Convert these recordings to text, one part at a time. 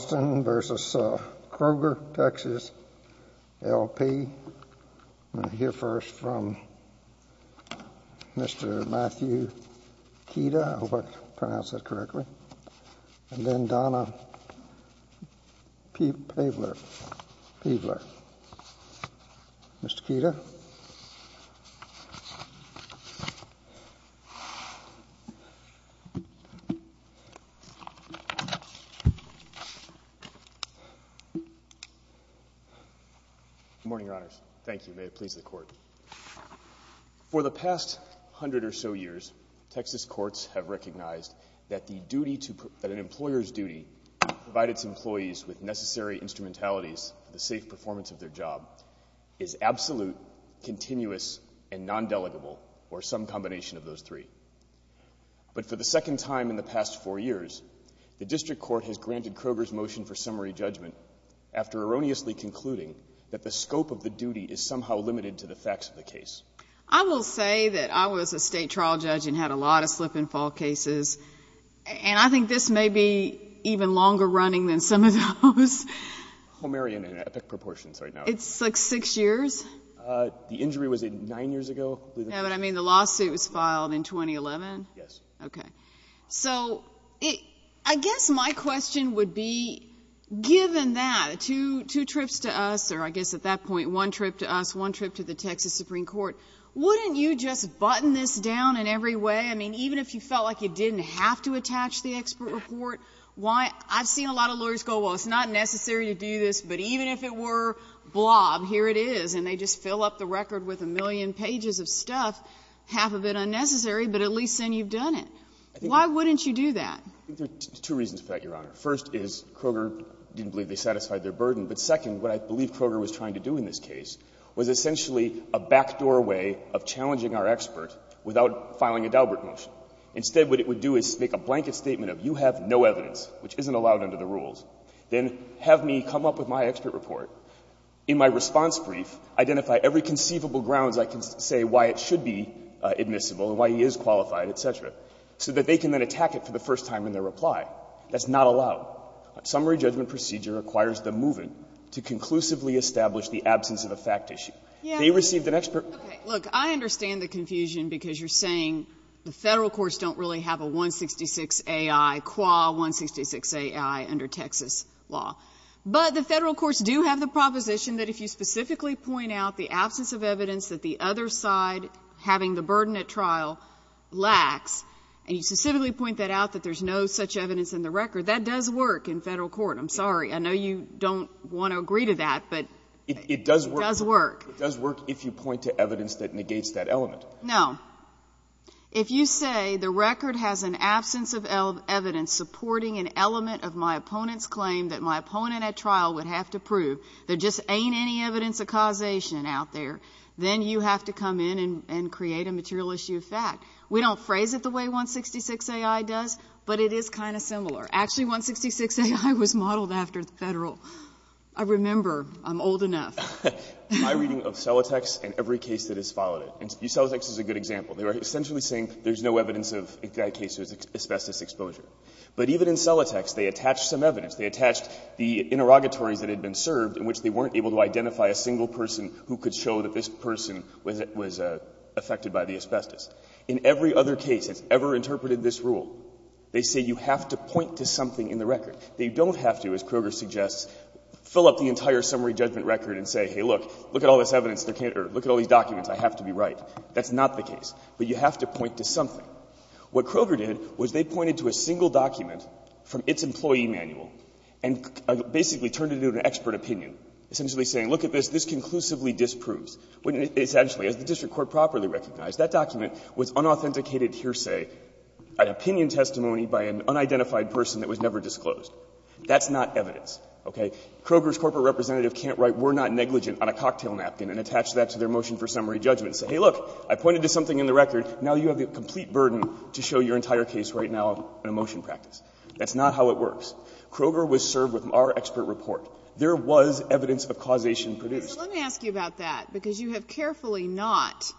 I'm going to hear first from Mr. Matthew Kida, I hope I pronounced that correctly, and then Donna Paveler, Mr. Kida. Good morning, Your Honors. Thank you. May it please the Court. For the past hundred or so years, Texas courts have recognized that an employer's duty to provide its employees with necessary instrumentalities for the safe performance of their job is absolute, continuous, and non-delegable, or some combination of those three. But for the second time in the past four years, the district court has granted Kroger's motion for summary judgment after erroneously concluding that the scope of the duty is somehow limited to the facts of the case. I will say that I was a state trial judge and had a lot of slip and fall cases, and I think this may be even longer running than some of those. Homerian in epic proportions right now. It's like six years. The injury was nine years ago. No, but I mean the lawsuit was filed in 2011? Yes. Okay. So I guess my question would be, given that, two trips to us, or I guess at that point one trip to us, one trip to the Texas Supreme Court, wouldn't you just button this down in every way? I mean, even if you felt like you didn't have to attach the expert report, why — I've seen a lot of lawyers go, well, it's not necessary to do this, but even if it were, blob, here it is. And they just fill up the record with a million pages of stuff, half of it unnecessary, but at least then you've done it. Why wouldn't you do that? I think there are two reasons for that, Your Honor. First is Kroger didn't believe they satisfied their burden. But second, what I believe Kroger was trying to do in this case was essentially a backdoor way of challenging our expert without filing a Daubert motion. Instead, what it would do is make a blanket statement of, you have no evidence, which isn't allowed under the rules, then have me come up with my expert report. In my response brief, identify every conceivable grounds I can say why it should be admissible and why he is qualified, et cetera, so that they can then attack it for the first time in their reply. That's not allowed. A summary judgment procedure requires the move-in to conclusively establish the absence of a fact issue. They received an expert — Okay. Look, I understand the confusion because you're saying the Federal courts don't really have a 166-AI, qua-166-AI under Texas law. But the Federal courts do have the proposition that if you specifically point out the absence of evidence that the other side having the burden at trial lacks, and you specifically point that out, that there's no such evidence in the record, that does work in Federal court. I'm sorry. I know you don't want to agree to that, but it does work. It does work if you point to evidence that negates that element. No. If you say the record has an absence of evidence supporting an element of my opponent's claim that my opponent at trial would have to prove there just ain't any evidence of causation out there, then you have to come in and create a material issue of fact. We don't phrase it the way 166-AI does, but it is kind of similar. Actually, 166-AI was modeled after the Federal. I remember. I'm old enough. My reading of Celotex and every case that has followed it. Celotex is a good example. They were essentially saying there's no evidence of, in that case, asbestos exposure. But even in Celotex, they attached some evidence. They attached the interrogatories that had been served in which they weren't able to identify a single person who could show that this person was affected by the asbestos. In every other case that's ever interpreted this rule, they say you have to point to something in the record. They don't have to, as Kroger suggests, fill up the entire summary judgment record and say, hey, look, look at all this evidence, or look at all these documents. I have to be right. That's not the case. But you have to point to something. What Kroger did was they pointed to a single document from its employee manual and basically turned it into an expert opinion, essentially saying, look at this. This conclusively disproves. Essentially, as the district court properly recognized, that document was unauthenticated hearsay, an opinion testimony by an unidentified person that was never disclosed. That's not evidence. Okay? Kroger's corporate representative can't write we're not negligent on a cocktail napkin and attach that to their motion for summary judgment and say, hey, look, I pointed to something in the record. Now you have the complete burden to show your entire case right now in a motion practice. That's not how it works. Kroger was served with our expert report. There was evidence of causation produced. So let me ask you about that, because you have carefully not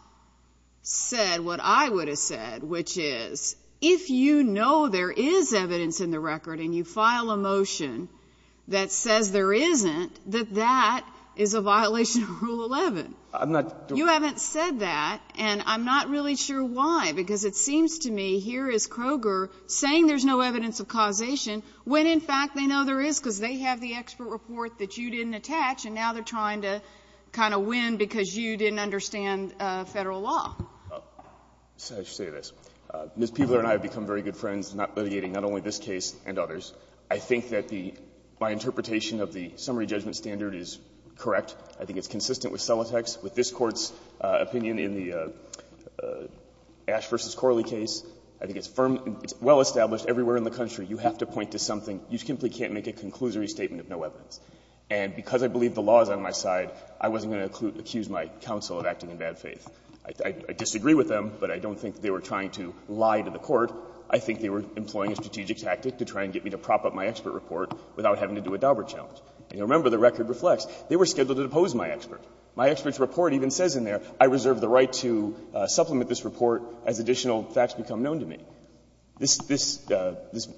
said what I would have said, which is, if you know there is evidence in the record and you file a motion that says there isn't, that that is a violation of Rule 11. I'm not doing that. You haven't said that, and I'm not really sure why, because it seems to me here is Kroger saying there's no evidence of causation when, in fact, they know there is because they have the expert report that you didn't attach, and now they're trying to kind of win because you didn't understand Federal law. I should say this. Ms. Peebler and I have become very good friends in not litigating not only this case and others. I think that the my interpretation of the summary judgment standard is correct. I think it's consistent with Celotek's, with this Court's opinion in the Ash v. Corley case. I think it's firm, it's well-established everywhere in the country. You have to point to something. You simply can't make a conclusory statement of no evidence. And because I believe the law is on my side, I wasn't going to accuse my counsel of acting in bad faith. I disagree with them, but I don't think they were trying to lie to the Court. I think they were employing a strategic tactic to try and get me to prop up my expert report without having to do a Daubert challenge. And remember, the record reflects, they were scheduled to depose my expert. My expert's report even says in there, I reserve the right to supplement this report as additional facts become known to me. This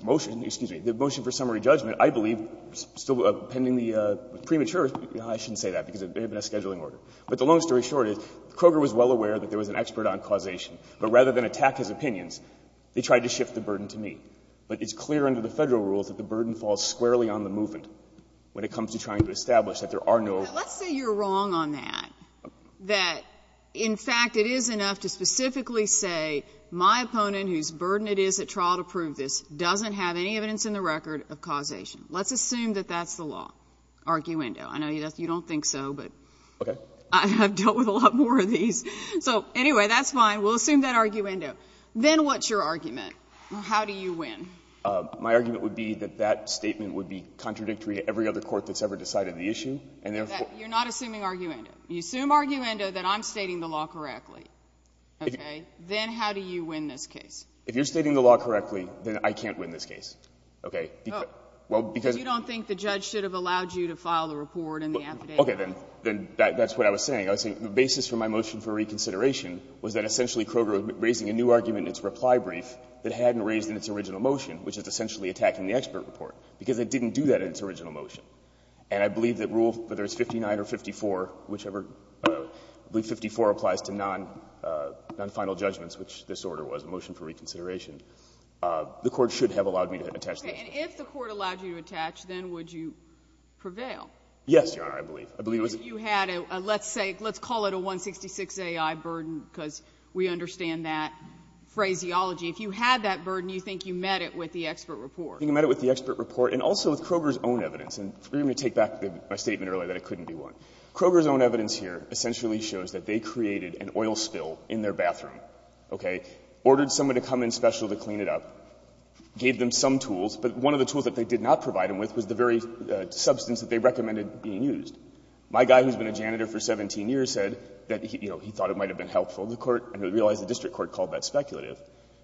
motion, excuse me, the motion for summary judgment, I believe, still pending the premature, I shouldn't say that because it may have been a scheduling order. But the long story short is Kroger was well aware that there was an expert on causation. But rather than attack his opinions, they tried to shift the burden to me. But it's clear under the Federal rules that the burden falls squarely on the movement. When it comes to trying to establish that there are no. But let's say you're wrong on that, that, in fact, it is enough to specifically say, my opponent, whose burden it is at trial to prove this, doesn't have any evidence in the record of causation. Let's assume that that's the law, arguendo. I know you don't think so, but I have dealt with a lot more of these. So anyway, that's fine. We'll assume that arguendo. Then what's your argument? How do you win? My argument would be that that statement would be contradictory to every other court that's ever decided the issue. And therefore. You're not assuming arguendo. You assume arguendo that I'm stating the law correctly. Okay? Then how do you win this case? If you're stating the law correctly, then I can't win this case. Okay? Well, because. You don't think the judge should have allowed you to file the report and the affidavit? Okay. Then that's what I was saying. I was saying the basis for my motion for reconsideration was that essentially Kroger was raising a new argument in its reply brief that hadn't raised in its original motion, which is essentially attacking the expert report, because it didn't do that in its original motion. And I believe that Rule, whether it's 59 or 54, whichever, I believe 54 applies to non-final judgments, which this order was, a motion for reconsideration, the Court should have allowed me to attach that. Okay. And if the Court allowed you to attach, then would you prevail? Yes, Your Honor, I believe. I believe it was. But if you had a, let's say, let's call it a 166-AI burden, because we understand that phraseology. If you had that burden, you think you met it with the expert report. I think I met it with the expert report and also with Kroger's own evidence. And let me take back my statement earlier that it couldn't be one. Kroger's own evidence here essentially shows that they created an oil spill in their bathroom, okay, ordered someone to come in special to clean it up, gave them some tools, but one of the tools that they did not provide them with was the very substance that they recommended being used. My guy who's been a janitor for 17 years said that, you know, he thought it might have been helpful to the Court, and he realized the district court called that speculative.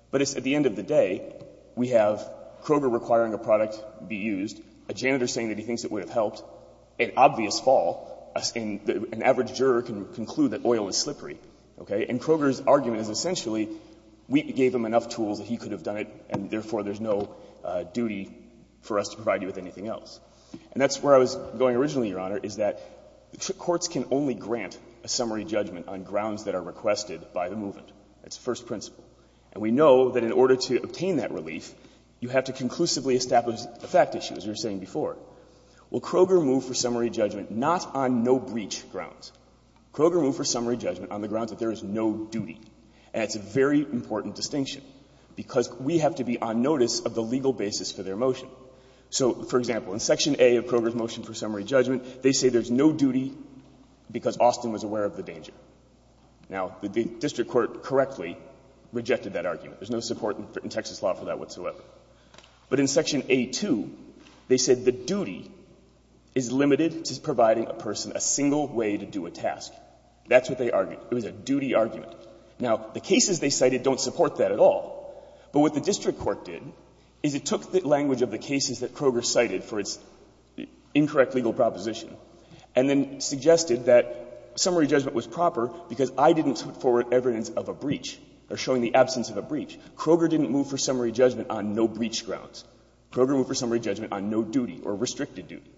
But it's at the end of the day, we have Kroger requiring a product be used, a janitor saying that he thinks it would have helped, an obvious fall, and an average juror can conclude that oil is slippery, okay? And Kroger's argument is essentially, we gave him enough tools, he could have done it, and therefore there's no duty for us to provide you with anything else. And that's where I was going originally, Your Honor, is that courts can only grant a summary judgment on grounds that are requested by the movement. That's the first principle. And we know that in order to obtain that relief, you have to conclusively establish a fact issue, as you were saying before. Well, Kroger moved for summary judgment not on no-breach grounds. Kroger moved for summary judgment on the grounds that there is no duty. And it's a very important distinction, because we have to be on notice of the legal basis for their motion. So, for example, in Section A of Kroger's motion for summary judgment, they say there's no duty because Austin was aware of the danger. Now, the district court correctly rejected that argument. There's no support in Texas law for that whatsoever. But in Section A-2, they said the duty is limited to providing a person a single way to do a task. That's what they argued. It was a duty argument. Now, the cases they cited don't support that at all. But what the district court did is it took the language of the cases that Kroger cited for its incorrect legal proposition and then suggested that summary judgment was proper because I didn't put forward evidence of a breach or showing the absence of a breach. Kroger didn't move for summary judgment on no-breach grounds. Kroger moved for summary judgment on no duty or restricted duty.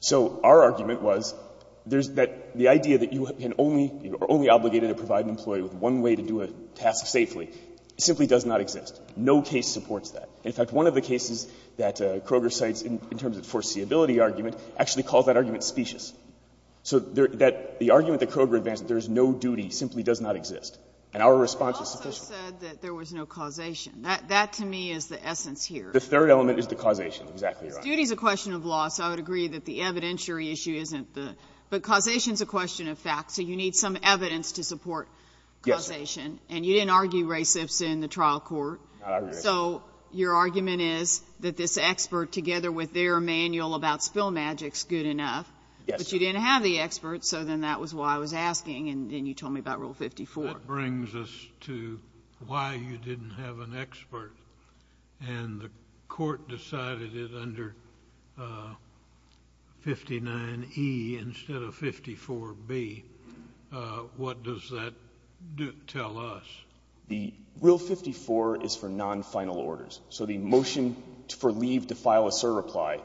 So our argument was there's that the idea that you can only or are only obligated to provide an employee with one way to do a task safely simply does not exist. No case supports that. In fact, one of the cases that Kroger cites in terms of foreseeability argument actually calls that argument specious. So that the argument that Kroger advanced, there's no duty, simply does not exist. And our response is specious. Sotomayor, You also said that there was no causation. That, to me, is the essence here. The third element is the causation. Exactly right. Duty is a question of law, so I would agree that the evidentiary issue isn't the But causation is a question of fact. So you need some evidence to support causation. And you didn't argue recepts in the trial court. So your argument is that this expert, together with their manual about spill magic, is good enough. Yes. But you didn't have the expert, so then that was why I was asking, and then you told me about Rule 54. That brings us to why you didn't have an expert, and the court decided it under 59E instead of 54B. What does that tell us? The Rule 54 is for nonfinal orders. So the motion for leave to file a certify,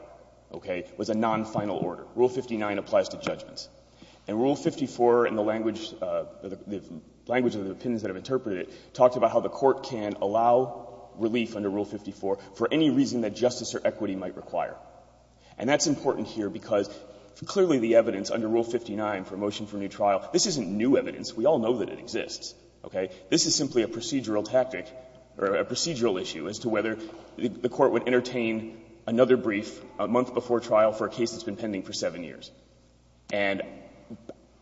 okay, was a nonfinal order. Rule 59 applies to judgments. And Rule 54, in the language of the opinions that I've interpreted, talked about how the court can allow relief under Rule 54 for any reason that justice or equity might require. And that's important here because clearly the evidence under Rule 59 for a motion for a new trial, this isn't new evidence. We all know that it exists, okay? This is simply a procedural tactic or a procedural issue as to whether the court would entertain another brief a month before trial for a case that's been pending for 7 years. And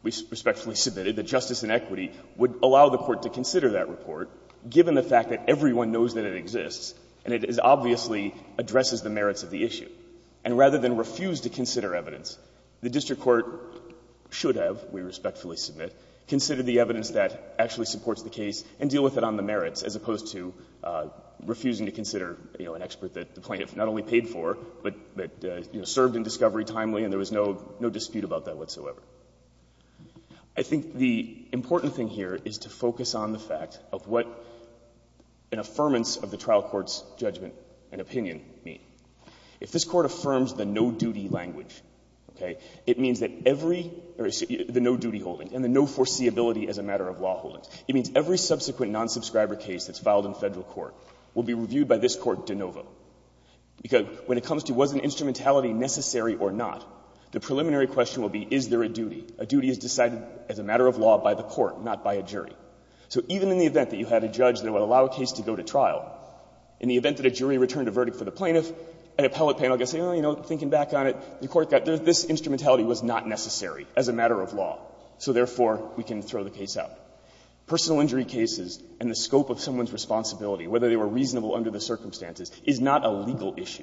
we respectfully submitted that justice and equity would allow the court to consider that report, given the fact that everyone knows that it exists, and it obviously addresses the merits of the issue. And rather than refuse to consider evidence, the district court should have, we respectfully submit, considered the evidence that actually supports the case and deal with it on the merits, as opposed to refusing to consider, you know, an expert that the plaintiff not only paid for, but, you know, served in discovery timely and there was no dispute about that whatsoever. I think the important thing here is to focus on the fact of what an affirmance of the trial court's judgment and opinion mean. If this Court affirms the no-duty language, okay, it means that every — the no-duty holdings and the no foreseeability as a matter of law holdings. It means every subsequent non-subscriber case that's filed in Federal court will be reviewed by this Court de novo. Because when it comes to was an instrumentality necessary or not, the preliminary question will be is there a duty. A duty is decided as a matter of law by the court, not by a jury. So even in the event that you had a judge that would allow a case to go to trial, in the event that a jury returned a verdict for the plaintiff, an appellate panel gets, you know, thinking back on it, the court got this instrumentality was not necessary as a matter of law. So therefore, we can throw the case out. Personal injury cases and the scope of someone's responsibility, whether they were reasonable under the circumstances, is not a legal issue.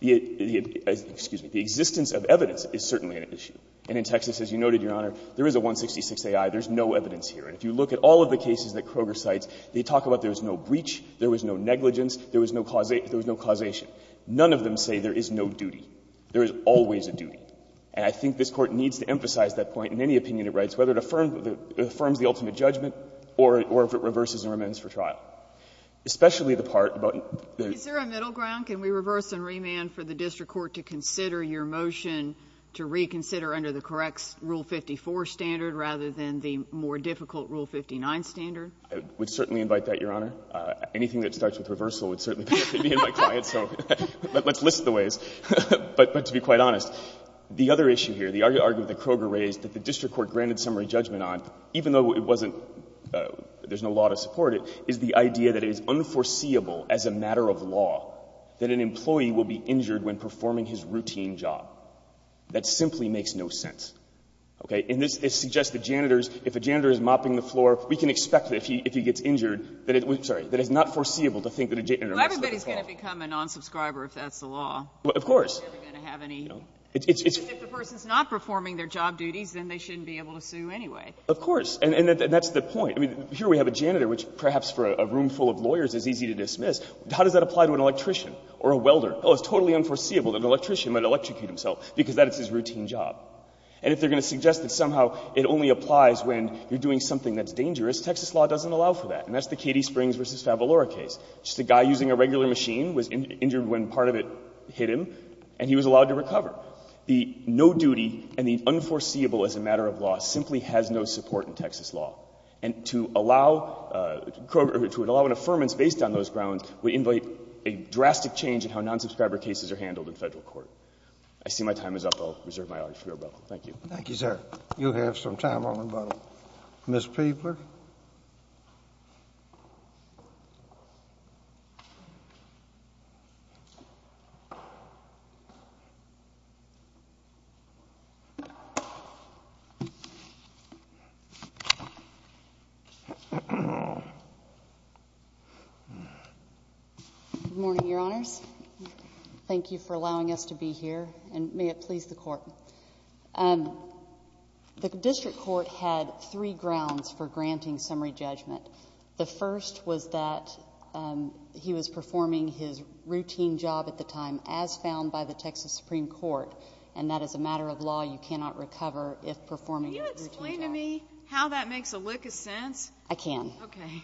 The — excuse me. The existence of evidence is certainly an issue. And in Texas, as you noted, Your Honor, there is a 166Ai. There's no evidence here. And if you look at all of the cases that Kroger cites, they talk about there was no breach, there was no negligence, there was no causation. None of them say there is no duty. There is always a duty. And I think this Court needs to emphasize that point in any opinion it writes, whether it affirms the ultimate judgment or if it reverses and remains for trial. Especially the part about the — Is there a middle ground? Can we reverse and remand for the district court to consider your motion to reconsider under the correct Rule 54 standard rather than the more difficult Rule 59 standard? I would certainly invite that, Your Honor. Anything that starts with reversal would certainly be in my client's. So let's list the ways. But to be quite honest, the other issue here, the argument that Kroger raised that the district court granted summary judgment on, even though it wasn't — there's been no law to support it, is the idea that it is unforeseeable as a matter of law that an employee will be injured when performing his routine job. That simply makes no sense. Okay? And this suggests that janitors, if a janitor is mopping the floor, we can expect that if he gets injured, that it would — sorry, that it's not foreseeable to think that a janitor mops the floor. Well, everybody's going to become a non-subscriber if that's the law. Of course. They're never going to have any — No. If the person's not performing their job duties, then they shouldn't be able to sue anyway. Of course. And that's the point. I mean, here we have a janitor, which perhaps for a room full of lawyers is easy to dismiss. How does that apply to an electrician or a welder? Oh, it's totally unforeseeable that an electrician might electrocute himself because that is his routine job. And if they're going to suggest that somehow it only applies when you're doing something that's dangerous, Texas law doesn't allow for that. And that's the Katie Springs v. Favalora case. Just a guy using a regular machine was injured when part of it hit him, and he was allowed to recover. The no duty and the unforeseeable as a matter of law simply has no support in Texas law. And to allow — to allow an affirmance based on those grounds would invite a drastic change in how non-subscriber cases are handled in Federal court. I see my time is up. I'll reserve my honor for your rebuttal. Thank you. Thank you, sir. You have some time on rebuttal. Ms. Peebler. Good morning, Your Honors. Thank you for allowing us to be here, and may it please the Court. The District Court had three grounds for granting summary judgment. The first was that he was performing his routine job at the time, as found by the Texas Supreme Court, and that as a matter of law, you cannot recover if performing a routine job. Can you explain to me how that makes a lick of sense? I can. Okay.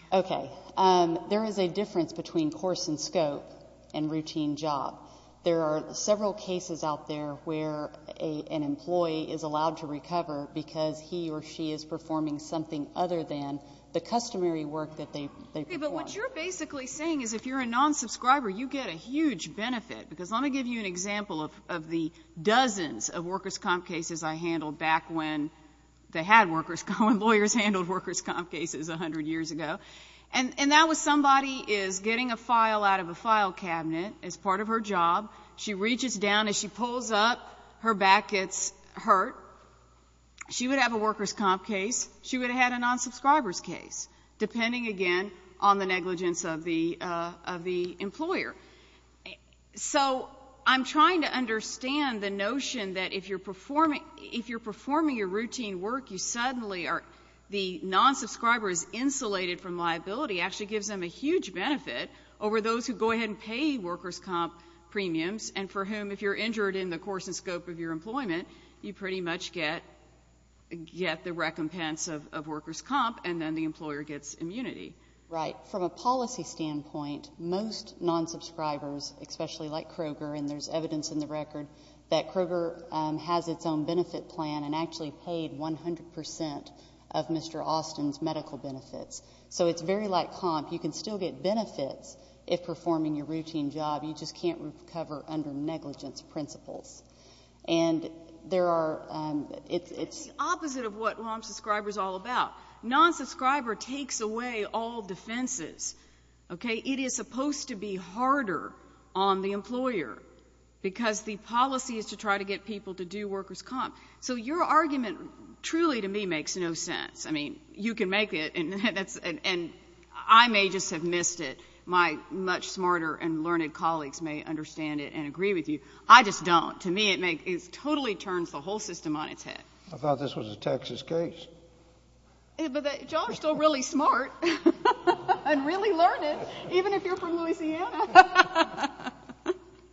Okay. There is a difference between course and scope and routine job. There are several cases out there where an employee is allowed to recover because he or she is performing something other than the customary work that they perform. But what you're basically saying is if you're a non-subscriber, you get a huge benefit, because let me give you an example of the dozens of workers' comp cases I handled back when they had workers' comp — when lawyers handled workers' comp cases 100 years ago, and that was somebody is getting a file out of a file cabinet as part of her job, she reaches down, as she pulls up, her back gets hurt. She would have a workers' comp case. She would have had a non-subscriber's case, depending, again, on the negligence of the — of the employer. So I'm trying to understand the notion that if you're performing — if you're performing your routine work, you suddenly are — the non-subscriber is insulated from liability actually gives them a huge benefit over those who go ahead and pay workers' comp premiums, and for whom, if you're injured in the course and scope of your employment, you pretty much get — get the recompense of workers' comp, and then the employer gets immunity. Right. From a policy standpoint, most non-subscribers, especially like Kroger — and there's evidence in the record that Kroger has its own benefit plan and actually paid 100 percent of Mr. Austin's medical benefits. So it's very like comp. You can still get benefits if performing your routine job. You just can't recover under negligence principles. And there are — it's — It's the opposite of what non-subscriber's all about. Non-subscriber takes away all defenses. Okay? It is supposed to be harder on the employer because the policy is to try to get people to do workers' comp. So your argument truly, to me, makes no sense. I mean, you can make it, and that's — and I may just have missed it. My much smarter and learned colleagues may understand it and agree with you. I just don't. To me, it makes — it totally turns the whole system on its head. I thought this was a Texas case. But y'all are still really smart and really learned, even if you're from Louisiana.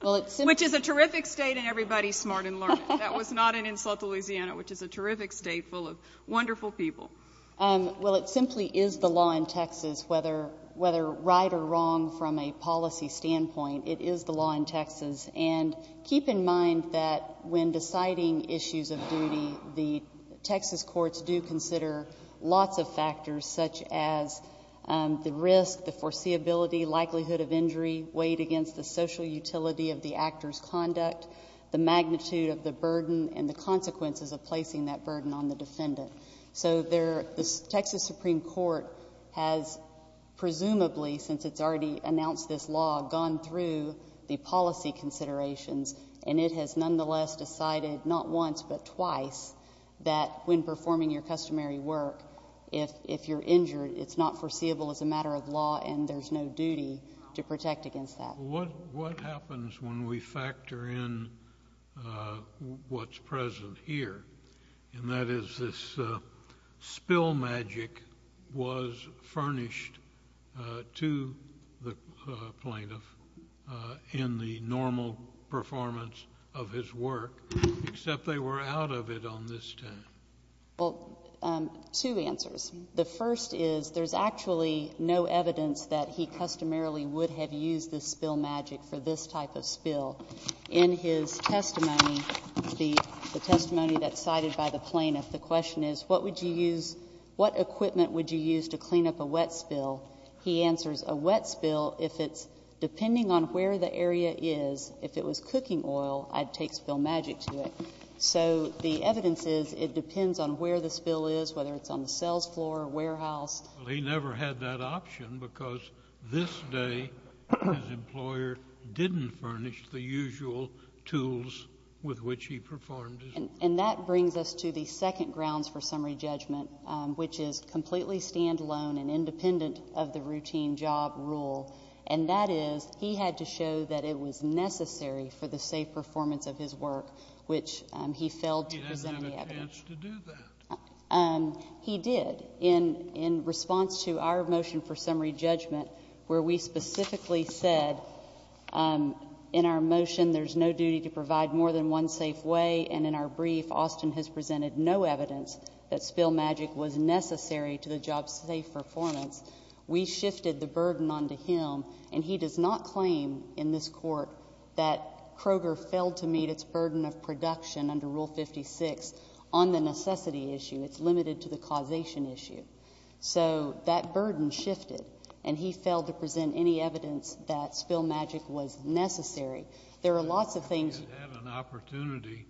Well, it's — Which is a terrific state, and everybody's smart and learned. That was not an insult to Louisiana, which is a terrific state full of wonderful people. Well, it simply is the law in Texas, whether right or wrong from a policy standpoint. It is the law in Texas. And keep in mind that when deciding issues of duty, the Texas courts do consider lots of factors, such as the risk, the foreseeability, likelihood of injury, weight against the social utility of the actor's conduct, the magnitude of the burden, and the consequences of placing that burden on the defendant. So there — the Texas Supreme Court has presumably, since it's already announced this law, gone through the policy considerations, and it has nonetheless decided not once but twice that when performing your customary work, if you're injured, it's not foreseeable as a matter of law, and there's no duty to protect against that. Well, what happens when we factor in what's present here, and that is this spill magic was furnished to the plaintiff in the normal performance of his work, except they were out of it on this time? Well, two answers. The first is there's actually no evidence that he customarily would have used this spill magic for this type of spill. In his testimony, the testimony that's cited by the plaintiff, the question is what would you use — what equipment would you use to clean up a wet spill? He answers, a wet spill, if it's — depending on where the area is, if it was cooking oil, I'd take spill magic to it. So the evidence is it depends on where the spill is, whether it's on the sales floor, warehouse. Well, he never had that option because this day his employer didn't furnish the usual tools with which he performed his work. And that brings us to the second grounds for summary judgment, which is completely standalone and independent of the routine job rule, and that is he had to show that it was necessary for the safe performance of his work, which he failed to present the evidence. He didn't have a chance to do that. He did. In response to our motion for summary judgment, where we specifically said in our motion there's no duty to provide more than one safe way, and in our brief Austin has presented no evidence that spill magic was necessary to the job's safe performance, we shifted the burden onto him, and he does not claim in this Court that Kroger failed to meet its burden of production under Rule 56 on the necessity issue. It's limited to the causation issue. So that burden shifted, and he failed to present any evidence that spill magic was necessary. There are lots of things... If he had had an opportunity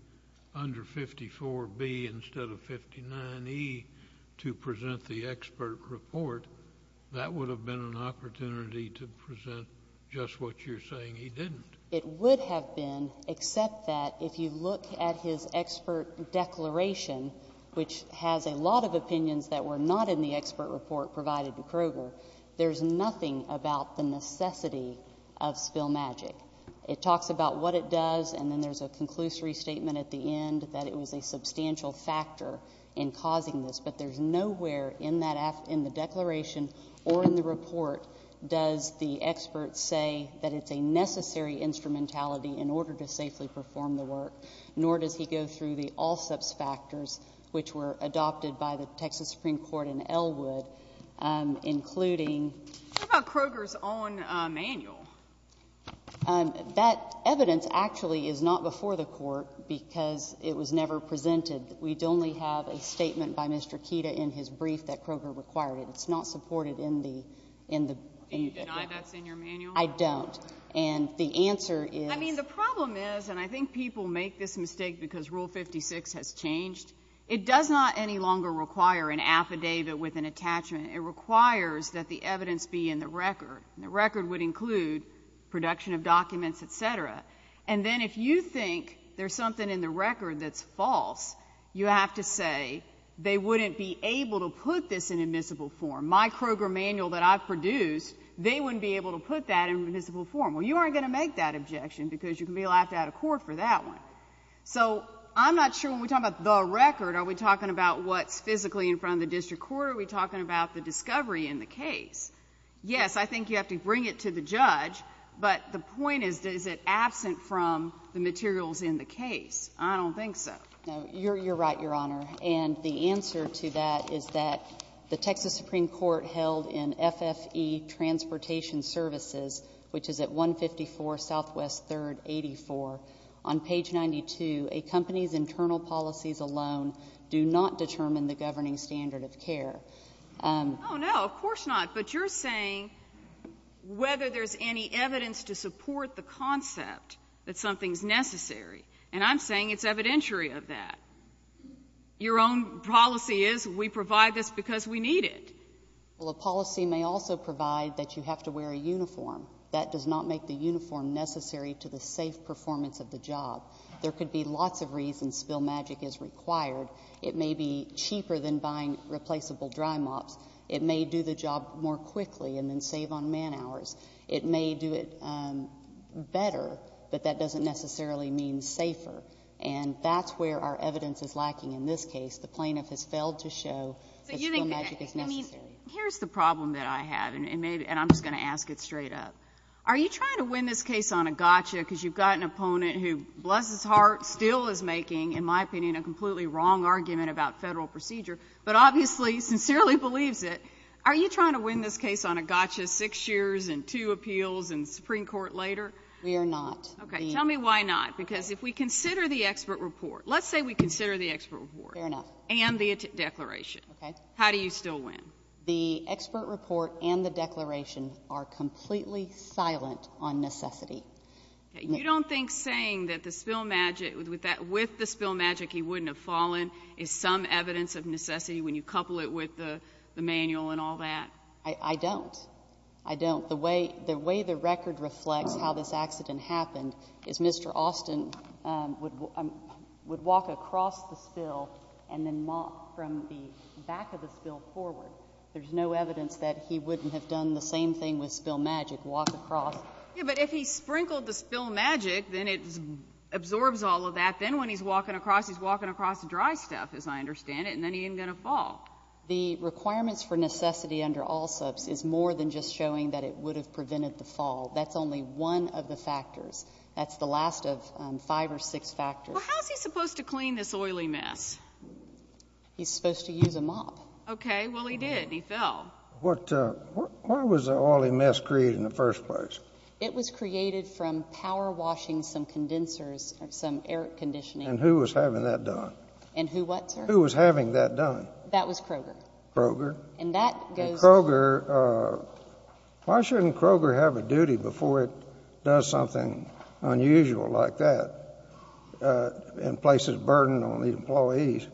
under 54B instead of 59E to present the expert report, that would have been an opportunity to present just what you're saying he didn't. It would have been, except that if you look at his expert declaration, which has a lot of opinions that were not in the expert report provided to Kroger, there's nothing about the necessity of spill magic. It talks about what it does, and then there's a conclusory statement at the end that it was a substantial factor in causing this, but there's nowhere in that... in the declaration or in the report does the expert say that it's a necessary instrumentality in order to safely perform the work, nor does he go through the all-subs factors which were adopted by the Texas Supreme Court in Ellwood, including... What about Kroger's own manual? That evidence actually is not before the Court because it was never presented. We only have a statement by Mr. Keita in his brief that Kroger required it. It's not supported in the... Do you deny that's in your manual? I don't, and the answer is... I mean, the problem is, and I think people make this mistake because Rule 56 has changed, it does not any longer require an affidavit with an attachment. It requires that the evidence be in the record, and the record would include production of documents, et cetera. And then if you think there's something in the record that's false, you have to say they wouldn't be able to put this in admissible form. My Kroger manual that I've produced, they wouldn't be able to put that in admissible form. Well, you aren't going to make that objection because you can be laughed out of court for that one. So I'm not sure when we're talking about the record, are we talking about what's physically in front of the district court, or are we talking about the discovery in the case? Yes, I think you have to bring it to the judge, but the point is, is it absent from the materials in the case? I don't think so. Now, you're right, Your Honor, and the answer to that is that the Texas Supreme Court held in FFE Transportation Services, which is at 154 Southwest 3rd 84, on page 92, a company's internal policies alone do not determine the governing standard of care. Oh, no, of course not. But you're saying whether there's any evidence to support the concept that something's necessary. And I'm saying it's evidentiary of that. Your own policy is we provide this because we need it. Well, a policy may also provide that you have to wear a uniform. That does not make the uniform necessary to the safe performance of the job. There could be lots of reasons spill magic is required. It may be cheaper than buying replaceable dry mops. It may do the job more quickly and then save on man hours. It may do it better, but that doesn't necessarily mean safer. And that's where our evidence is lacking in this case. The plaintiff has failed to show that spill magic is necessary. Here's the problem that I have, and I'm just going to ask it straight up. Are you trying to win this case on a gotcha because you've got an opponent who, bless his heart, still is making, in my opinion, a completely wrong argument about Federal procedure, but obviously sincerely believes it? Are you trying to win this case on a gotcha six years and two appeals and Supreme Court later? We are not. Okay. Tell me why not. Because if we consider the expert report, let's say we consider the expert report and the declaration. Okay. How do you still win? The expert report and the declaration are completely silent on necessity. Okay. You don't think saying that with the spill magic he wouldn't have fallen is some evidence of necessity when you couple it with the manual and all that? I don't. I don't. The way the record reflects how this accident happened is Mr. Austin would walk across the spill and then mop from the back of the spill forward. There's no evidence that he wouldn't have done the same thing with spill magic, walk across. Yes, but if he sprinkled the spill magic, then it absorbs all of that. Then when he's walking across, he's walking across dry stuff, as I understand it. Then he isn't going to fall. The requirements for necessity under all subs is more than just showing that it would have prevented the fall. That's only one of the factors. That's the last of five or six factors. How is he supposed to clean this oily mess? He's supposed to use a mop. Okay. Well, he did. He fell. Why was the oily mess created in the first place? It was created from power washing some condensers, some air conditioning. And who was having that done? And who what, sir? Who was having that done? That was Kroger. Kroger. And that goes... And Kroger, why shouldn't Kroger have a duty before it does something unusual like that and places a burden on the employees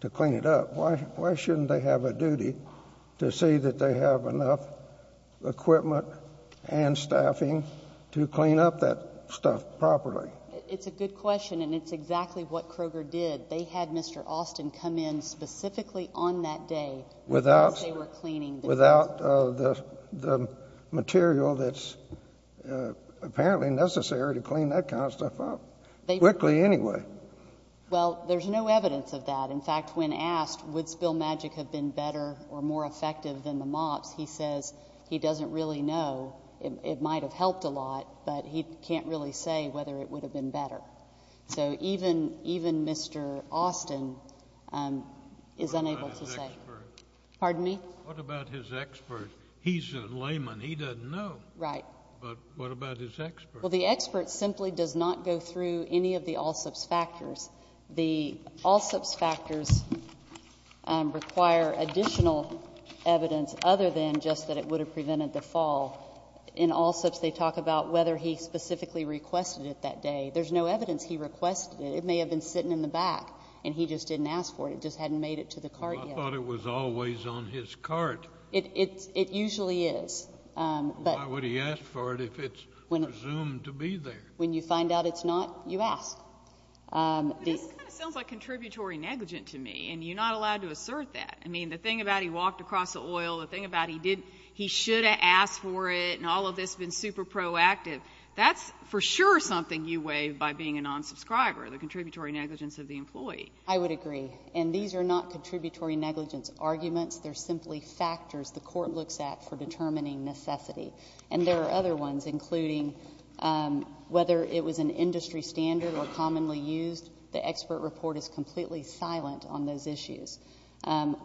to clean it up? Why shouldn't they have a duty to see that they have enough equipment and staffing to clean up that stuff properly? It's a good question, and it's exactly what Kroger did. They had Mr. Austin come in specifically on that day as they were cleaning the... Without the material that's apparently necessary to clean that kind of stuff up. Quickly anyway. Well, there's no evidence of that. In fact, when asked, would spill magic have been better or more effective than the mops, he says he doesn't really know. It might have helped a lot, but he can't really say whether it would have been better. So even Mr. Austin is unable to say. What about his expert? Pardon me? What about his expert? He's a layman. He doesn't know. Right. But what about his expert? Well, the expert simply does not go through any of the all-subs factors. The all-subs factors require additional evidence other than just that it would have prevented the fall. In all-subs, they talk about whether he specifically requested it that day. There's no evidence he requested it. It may have been sitting in the back, and he just didn't ask for it. It just hadn't made it to the cart yet. Well, I thought it was always on his cart. It usually is. Why would he ask for it if it's presumed to be there? When you find out it's not, you ask. This kind of sounds like contributory negligence to me, and you're not allowed to assert that. I mean, the thing about he walked across the oil, the thing about he should have asked for it, and all of this has been super proactive. That's for sure something you weigh by being a non-subscriber, the contributory negligence of the employee. I would agree. And these are not contributory negligence arguments. They're simply factors the Court looks at for determining necessity. And there are other ones, including whether it was an industry standard or commonly used. The expert report is completely silent on those issues.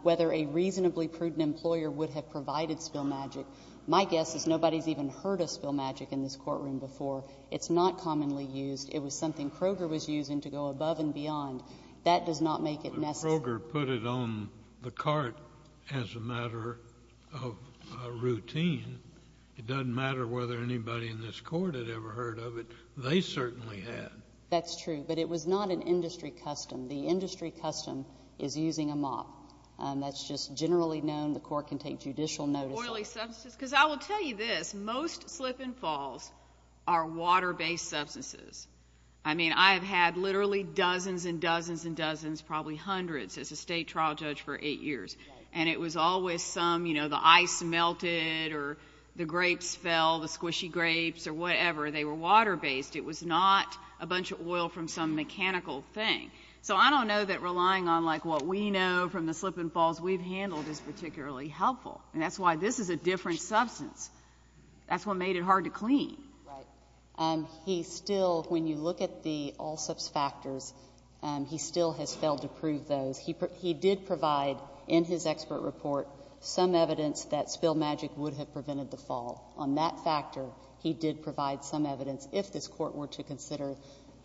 Whether a reasonably prudent employer would have provided spill magic, my guess is nobody has even heard of spill magic in this courtroom before. It's not commonly used. It was something Kroger was using to go above and beyond. That does not make it necessary. But Kroger put it on the cart as a matter of routine. It doesn't matter whether anybody in this Court had ever heard of it. They certainly had. That's true, but it was not an industry custom. The industry custom is using a mop. That's just generally known. The Court can take judicial notice of it. Because I will tell you this, most slip and falls are water-based substances. I mean, I have had literally dozens and dozens and dozens, probably hundreds as a state trial judge for eight years. And it was always some, you know, the ice melted or the grapes fell, the squishy grapes or whatever. They were water-based. It was not a bunch of oil from some mechanical thing. So I don't know that relying on like what we know from the slip and falls we've handled is particularly helpful. And that's why this is a different substance. That's what made it hard to clean. Right. He still, when you look at the all-subs factors, he still has failed to prove those. He did provide in his expert report some evidence that spill magic would have prevented the fall. On that factor, he did provide some evidence if this Court were to consider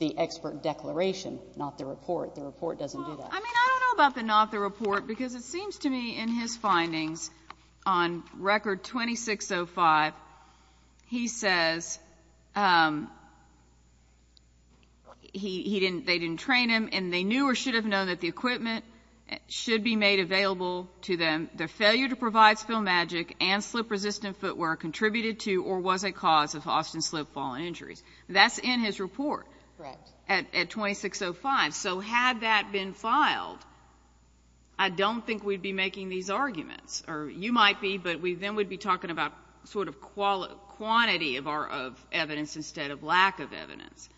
the expert declaration, not the report. The report doesn't do that. I mean, I don't know about the not the report, because it seems to me in his findings on Record 2605, he says he didn't, they didn't train him, and they knew or should have known that the equipment should be made available to them, the failure to provide spill magic and slip-resistant footwear contributed to or was a cause of Austin slip fall injuries. That's in his report at 2605. So had that been filed, I don't think we'd be making these arguments. Or you might be, but then we'd be talking about sort of quantity of evidence instead of lack of evidence.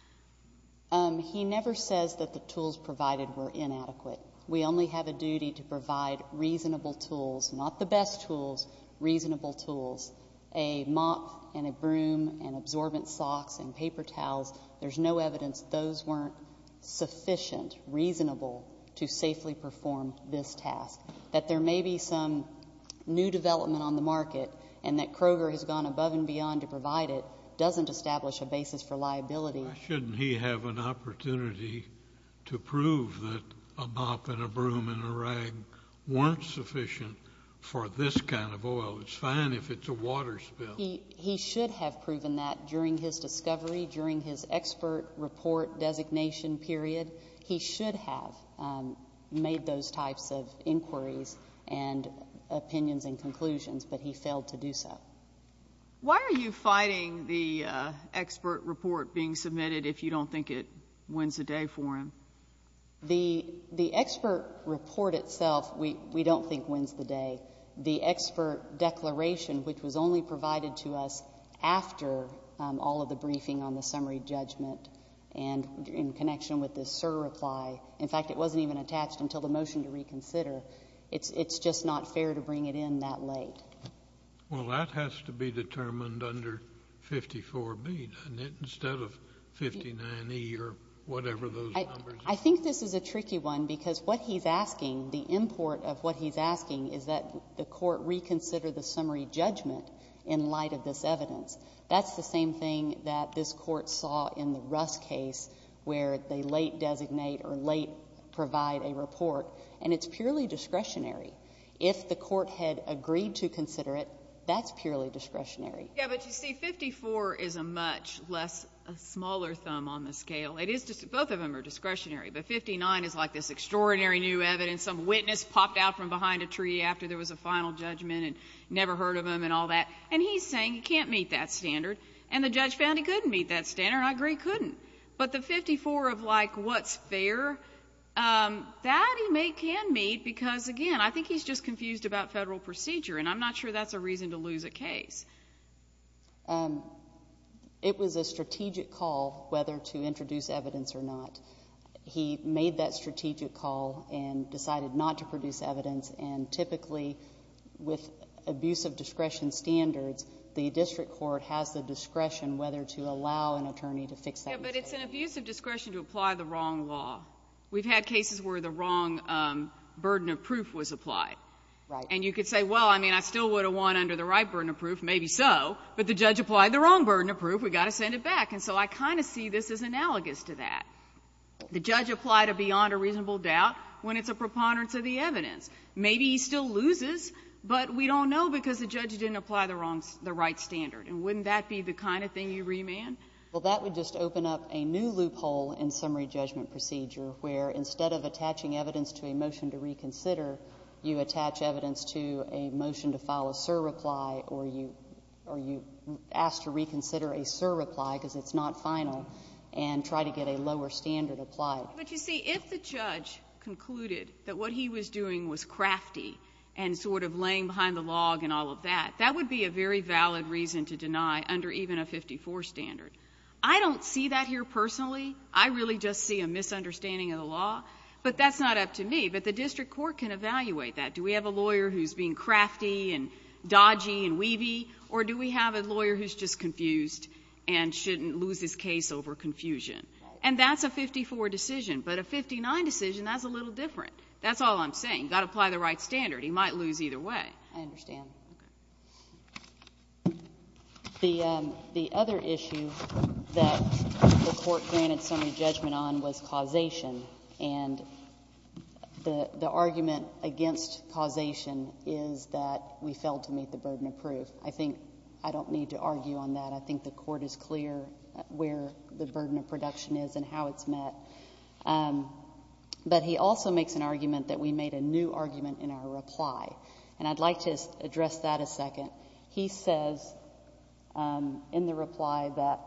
He never says that the tools provided were inadequate. We only have a duty to provide reasonable tools, not the best tools, reasonable tools. A mop and a broom and absorbent socks and paper towels, there's no evidence those weren't sufficient, reasonable to safely perform this task. That there may be some new development on the market and that Kroger has gone above and beyond to provide it doesn't establish a basis for liability. Why shouldn't he have an opportunity to prove that a mop and a broom and a rag weren't sufficient for this kind of oil? It's fine if it's a water spill. He should have proven that during his discovery, during his expert report designation period. He should have made those types of inquiries and opinions and conclusions, but he failed to do so. Why are you fighting the expert report being submitted if you don't think it wins the day for him? The expert report itself, we don't think wins the day. The expert declaration, which was only provided to us after all of the briefing on the summary judgment and in connection with the SIR reply, in fact, it wasn't even attached until the motion to reconsider, it's just not fair to bring it in that late. Well, that has to be determined under 54B instead of 59E or whatever those numbers are. I think this is a tricky one because what he's asking, the import of what he's asking is that the court reconsider the summary judgment in light of this evidence. That's the same thing that this court saw in the Russ case where they late designate or late provide a report, and it's purely discretionary. If the court had agreed to consider it, that's purely discretionary. Yeah, but you see, 54 is a much less, a smaller thumb on the scale. Both of them are discretionary, but 59 is like this extraordinary new evidence. Some witness popped out from behind a tree after there was a final judgment and never heard of them and all that, and he's saying he can't meet that standard, and the judge found he couldn't meet that standard, and I agree, couldn't. But the 54 of like what's fair, that he can meet because, again, I think he's just confused about federal procedure, and I'm not sure that's a reason to lose a case. It was a strategic call whether to introduce evidence or not. He made that strategic call and decided not to produce evidence, and typically, with abuse of discretion standards, the district court has the discretion whether to allow an attorney to fix that mistake. Yeah, but it's an abuse of discretion to apply the wrong law. We've had cases where the wrong burden of proof was applied. Right. And you could say, well, I mean, I still would have won under the right burden of proof, maybe so, but the judge applied the wrong burden of proof. We've got to send it back. And so I kind of see this as analogous to that. The judge applied a beyond a reasonable doubt when it's a preponderance of the evidence. Maybe he still loses, but we don't know because the judge didn't apply the right standard. And wouldn't that be the kind of thing you remand? Well, that would just open up a new loophole in summary judgment procedure where instead of attaching evidence to a motion to reconsider, you attach evidence to a motion to file a surreply or you ask to reconsider a surreply because it's not final and try to get a lower standard applied. But you see, if the judge concluded that what he was doing was crafty and sort of laying behind the log and all of that, that would be a very valid reason to deny under even a 54 standard. I don't see that here personally. I really just see a misunderstanding of the law. But that's not up to me. But the district court can evaluate that. Do we have a lawyer who's being crafty and dodgy and weavy, or do we have a lawyer who's just confused and shouldn't lose his case over confusion? And that's a 54 decision. But a 59 decision, that's a little different. That's all I'm saying. You've got to apply the right standard. He might lose either way. I understand. The other issue that the Court granted summary judgment on was causation. And the argument against causation is that we failed to meet the burden of proof. I think I don't need to argue on that. I think the Court is clear where the burden of production is and how it's met. But he also makes an argument that we made a new argument in our reply. He says in the reply that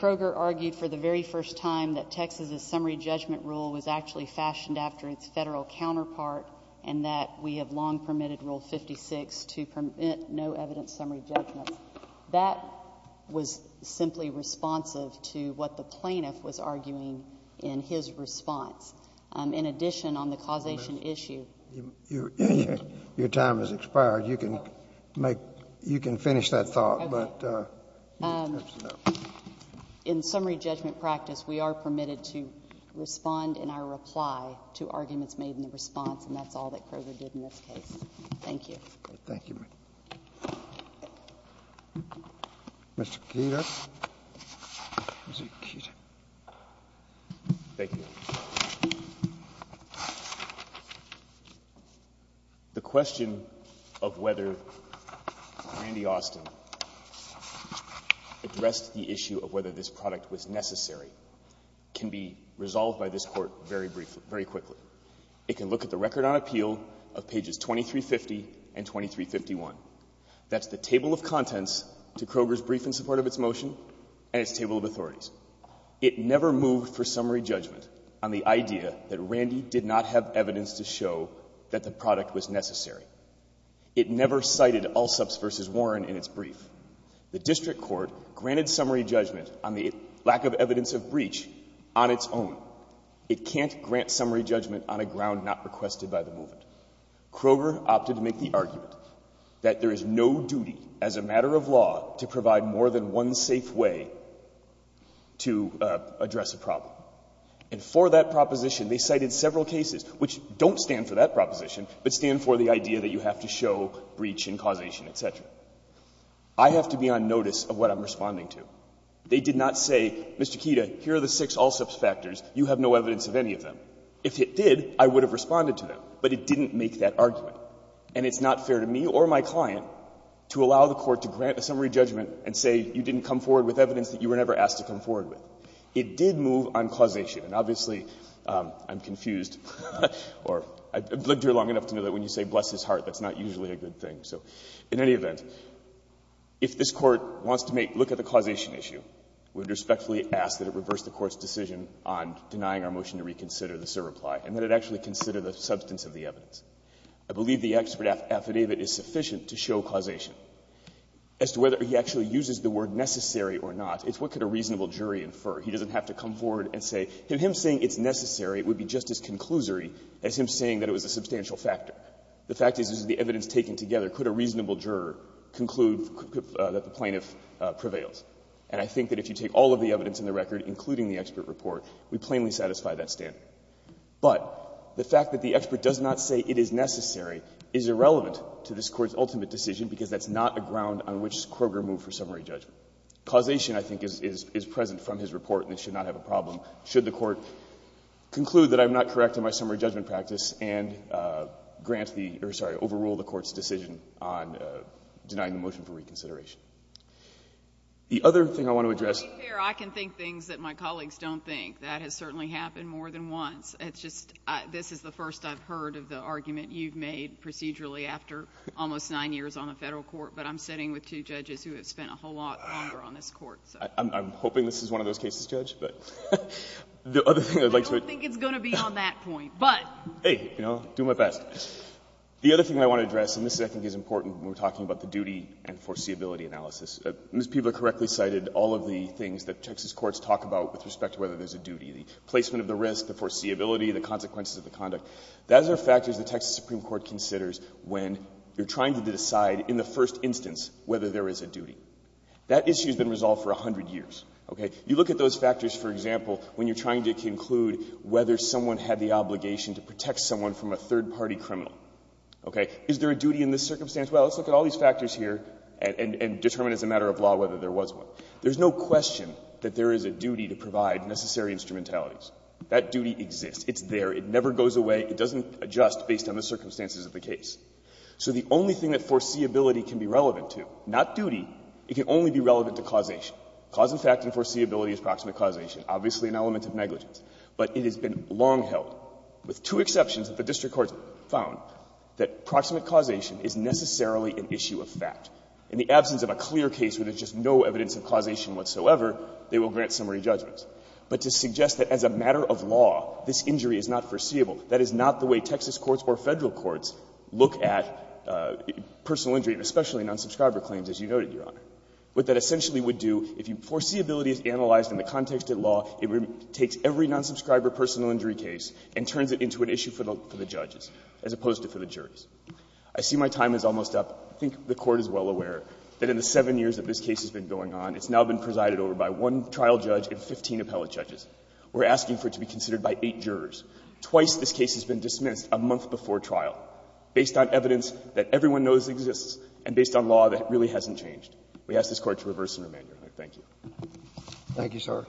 Kroger argued for the very first time that Texas's summary judgment rule was actually fashioned after its Federal counterpart and that we have long permitted Rule 56 to permit no evidence summary judgment. That was simply responsive to what the plaintiff was arguing in his response. In addition, on the causation issue, Your time has expired. You can finish that thought. In summary judgment practice, we are permitted to respond in our reply to arguments made in the response. And that's all that Kroger did in this case. Thank you. Thank you. Mr. Keeter. Thank you. The question of whether Randy Austin addressed the issue of whether this product was necessary can be resolved by this Court very briefly, very quickly. It can look at the record on appeal of pages 2350 and 2351. That's the table of contents to Kroger's brief in support of its motion and its table of authorities. It never moved for summary judgment on the idea that Randy did not have evidence to show that the product was necessary. It never cited Alsup's v. Warren in its brief. The district court granted summary judgment on the lack of evidence of breach on its own. It can't grant summary judgment on a ground not requested by the movement. Kroger opted to make the argument that there is no duty as a matter of law to provide more than one safe way to address a problem. And for that proposition, they cited several cases which don't stand for that proposition but stand for the idea that you have to show breach and causation, et cetera. I have to be on notice of what I'm responding to. They did not say, Mr. Keeter, here are the six Alsup's factors. You have no evidence of any of them. If it did, I would have responded to them. But it didn't make that argument. And it's not fair to me or my client to allow the Court to grant a summary judgment and say you didn't come forward with evidence that you were never asked to come forward with. It did move on causation. And obviously, I'm confused. Or I've lived here long enough to know that when you say bless his heart, that's not usually a good thing. So in any event, if this Court wants to make, look at the causation issue, we would respectfully ask that it reverse the Court's decision on denying our motion to reconsider the SIR reply and that it actually consider the substance of the evidence. I believe the expert affidavit is sufficient to show causation. As to whether he actually uses the word necessary or not, it's what could a reasonable jury infer. He doesn't have to come forward and say, him saying it's necessary would be just as conclusory as him saying that it was a substantial factor. The fact is, this is the evidence taken together. Could a reasonable juror conclude that the plaintiff prevails? And I think that if you take all of the evidence in the record, including the expert report, we plainly satisfy that standard. But the fact that the expert does not say it is necessary is irrelevant to this Court's It is not a ground on which Kroger moved for summary judgment. Causation, I think, is present from his report and it should not have a problem should the Court conclude that I'm not correct in my summary judgment practice and grant the, or sorry, overrule the Court's decision on denying the motion for reconsideration. The other thing I want to address. MS. GOTTLIEB. Your Honor, I can think things that my colleagues don't think. That has certainly happened more than once. It's just, this is the first I've heard of the argument you've made procedurally after almost nine years on the Federal Court. But I'm sitting with two judges who have spent a whole lot longer on this Court. MR. CLEMENT. I'm hoping this is one of those cases, Judge. But the other thing I'd like to. MS. GOTTLIEB. I don't think it's going to be on that point. But. MR. CLEMENT. Hey, you know, I'm doing my best. The other thing I want to address, and this, I think, is important when we're talking about the duty and foreseeability analysis. Ms. Piva correctly cited all of the things that Texas courts talk about with respect to whether there's a duty. The placement of the risk, the foreseeability, the consequences of the conduct. Those are factors the Texas Supreme Court considers when you're trying to decide, in the first instance, whether there is a duty. That issue has been resolved for 100 years. Okay? You look at those factors, for example, when you're trying to conclude whether someone had the obligation to protect someone from a third-party criminal. Okay? Is there a duty in this circumstance? Well, let's look at all these factors here and determine as a matter of law whether there was one. There's no question that there is a duty to provide necessary instrumentalities. That duty exists. It's there. It never goes away. It doesn't adjust based on the circumstances of the case. So the only thing that foreseeability can be relevant to, not duty, it can only be relevant to causation. Cause and fact and foreseeability is proximate causation. Obviously, an element of negligence. But it has been long held, with two exceptions that the district courts found, that proximate causation is necessarily an issue of fact. In the absence of a clear case where there's just no evidence of causation whatsoever, they will grant summary judgments. But to suggest that as a matter of law, this injury is not foreseeable, that is not the way Texas courts or Federal courts look at personal injury, especially non-subscriber claims, as you noted, Your Honor. What that essentially would do, if you foreseeability is analyzed in the context of law, it takes every non-subscriber personal injury case and turns it into an issue for the judges, as opposed to for the juries. I see my time is almost up. I think the Court is well aware that in the 7 years that this case has been going on, it's now been presided over by one trial judge and 15 appellate judges. We're asking for it to be considered by eight jurors. Twice this case has been dismissed a month before trial, based on evidence that everyone knows exists and based on law that really hasn't changed. We ask this Court to reverse and remand, Your Honor. Thank you. Thank you, sir.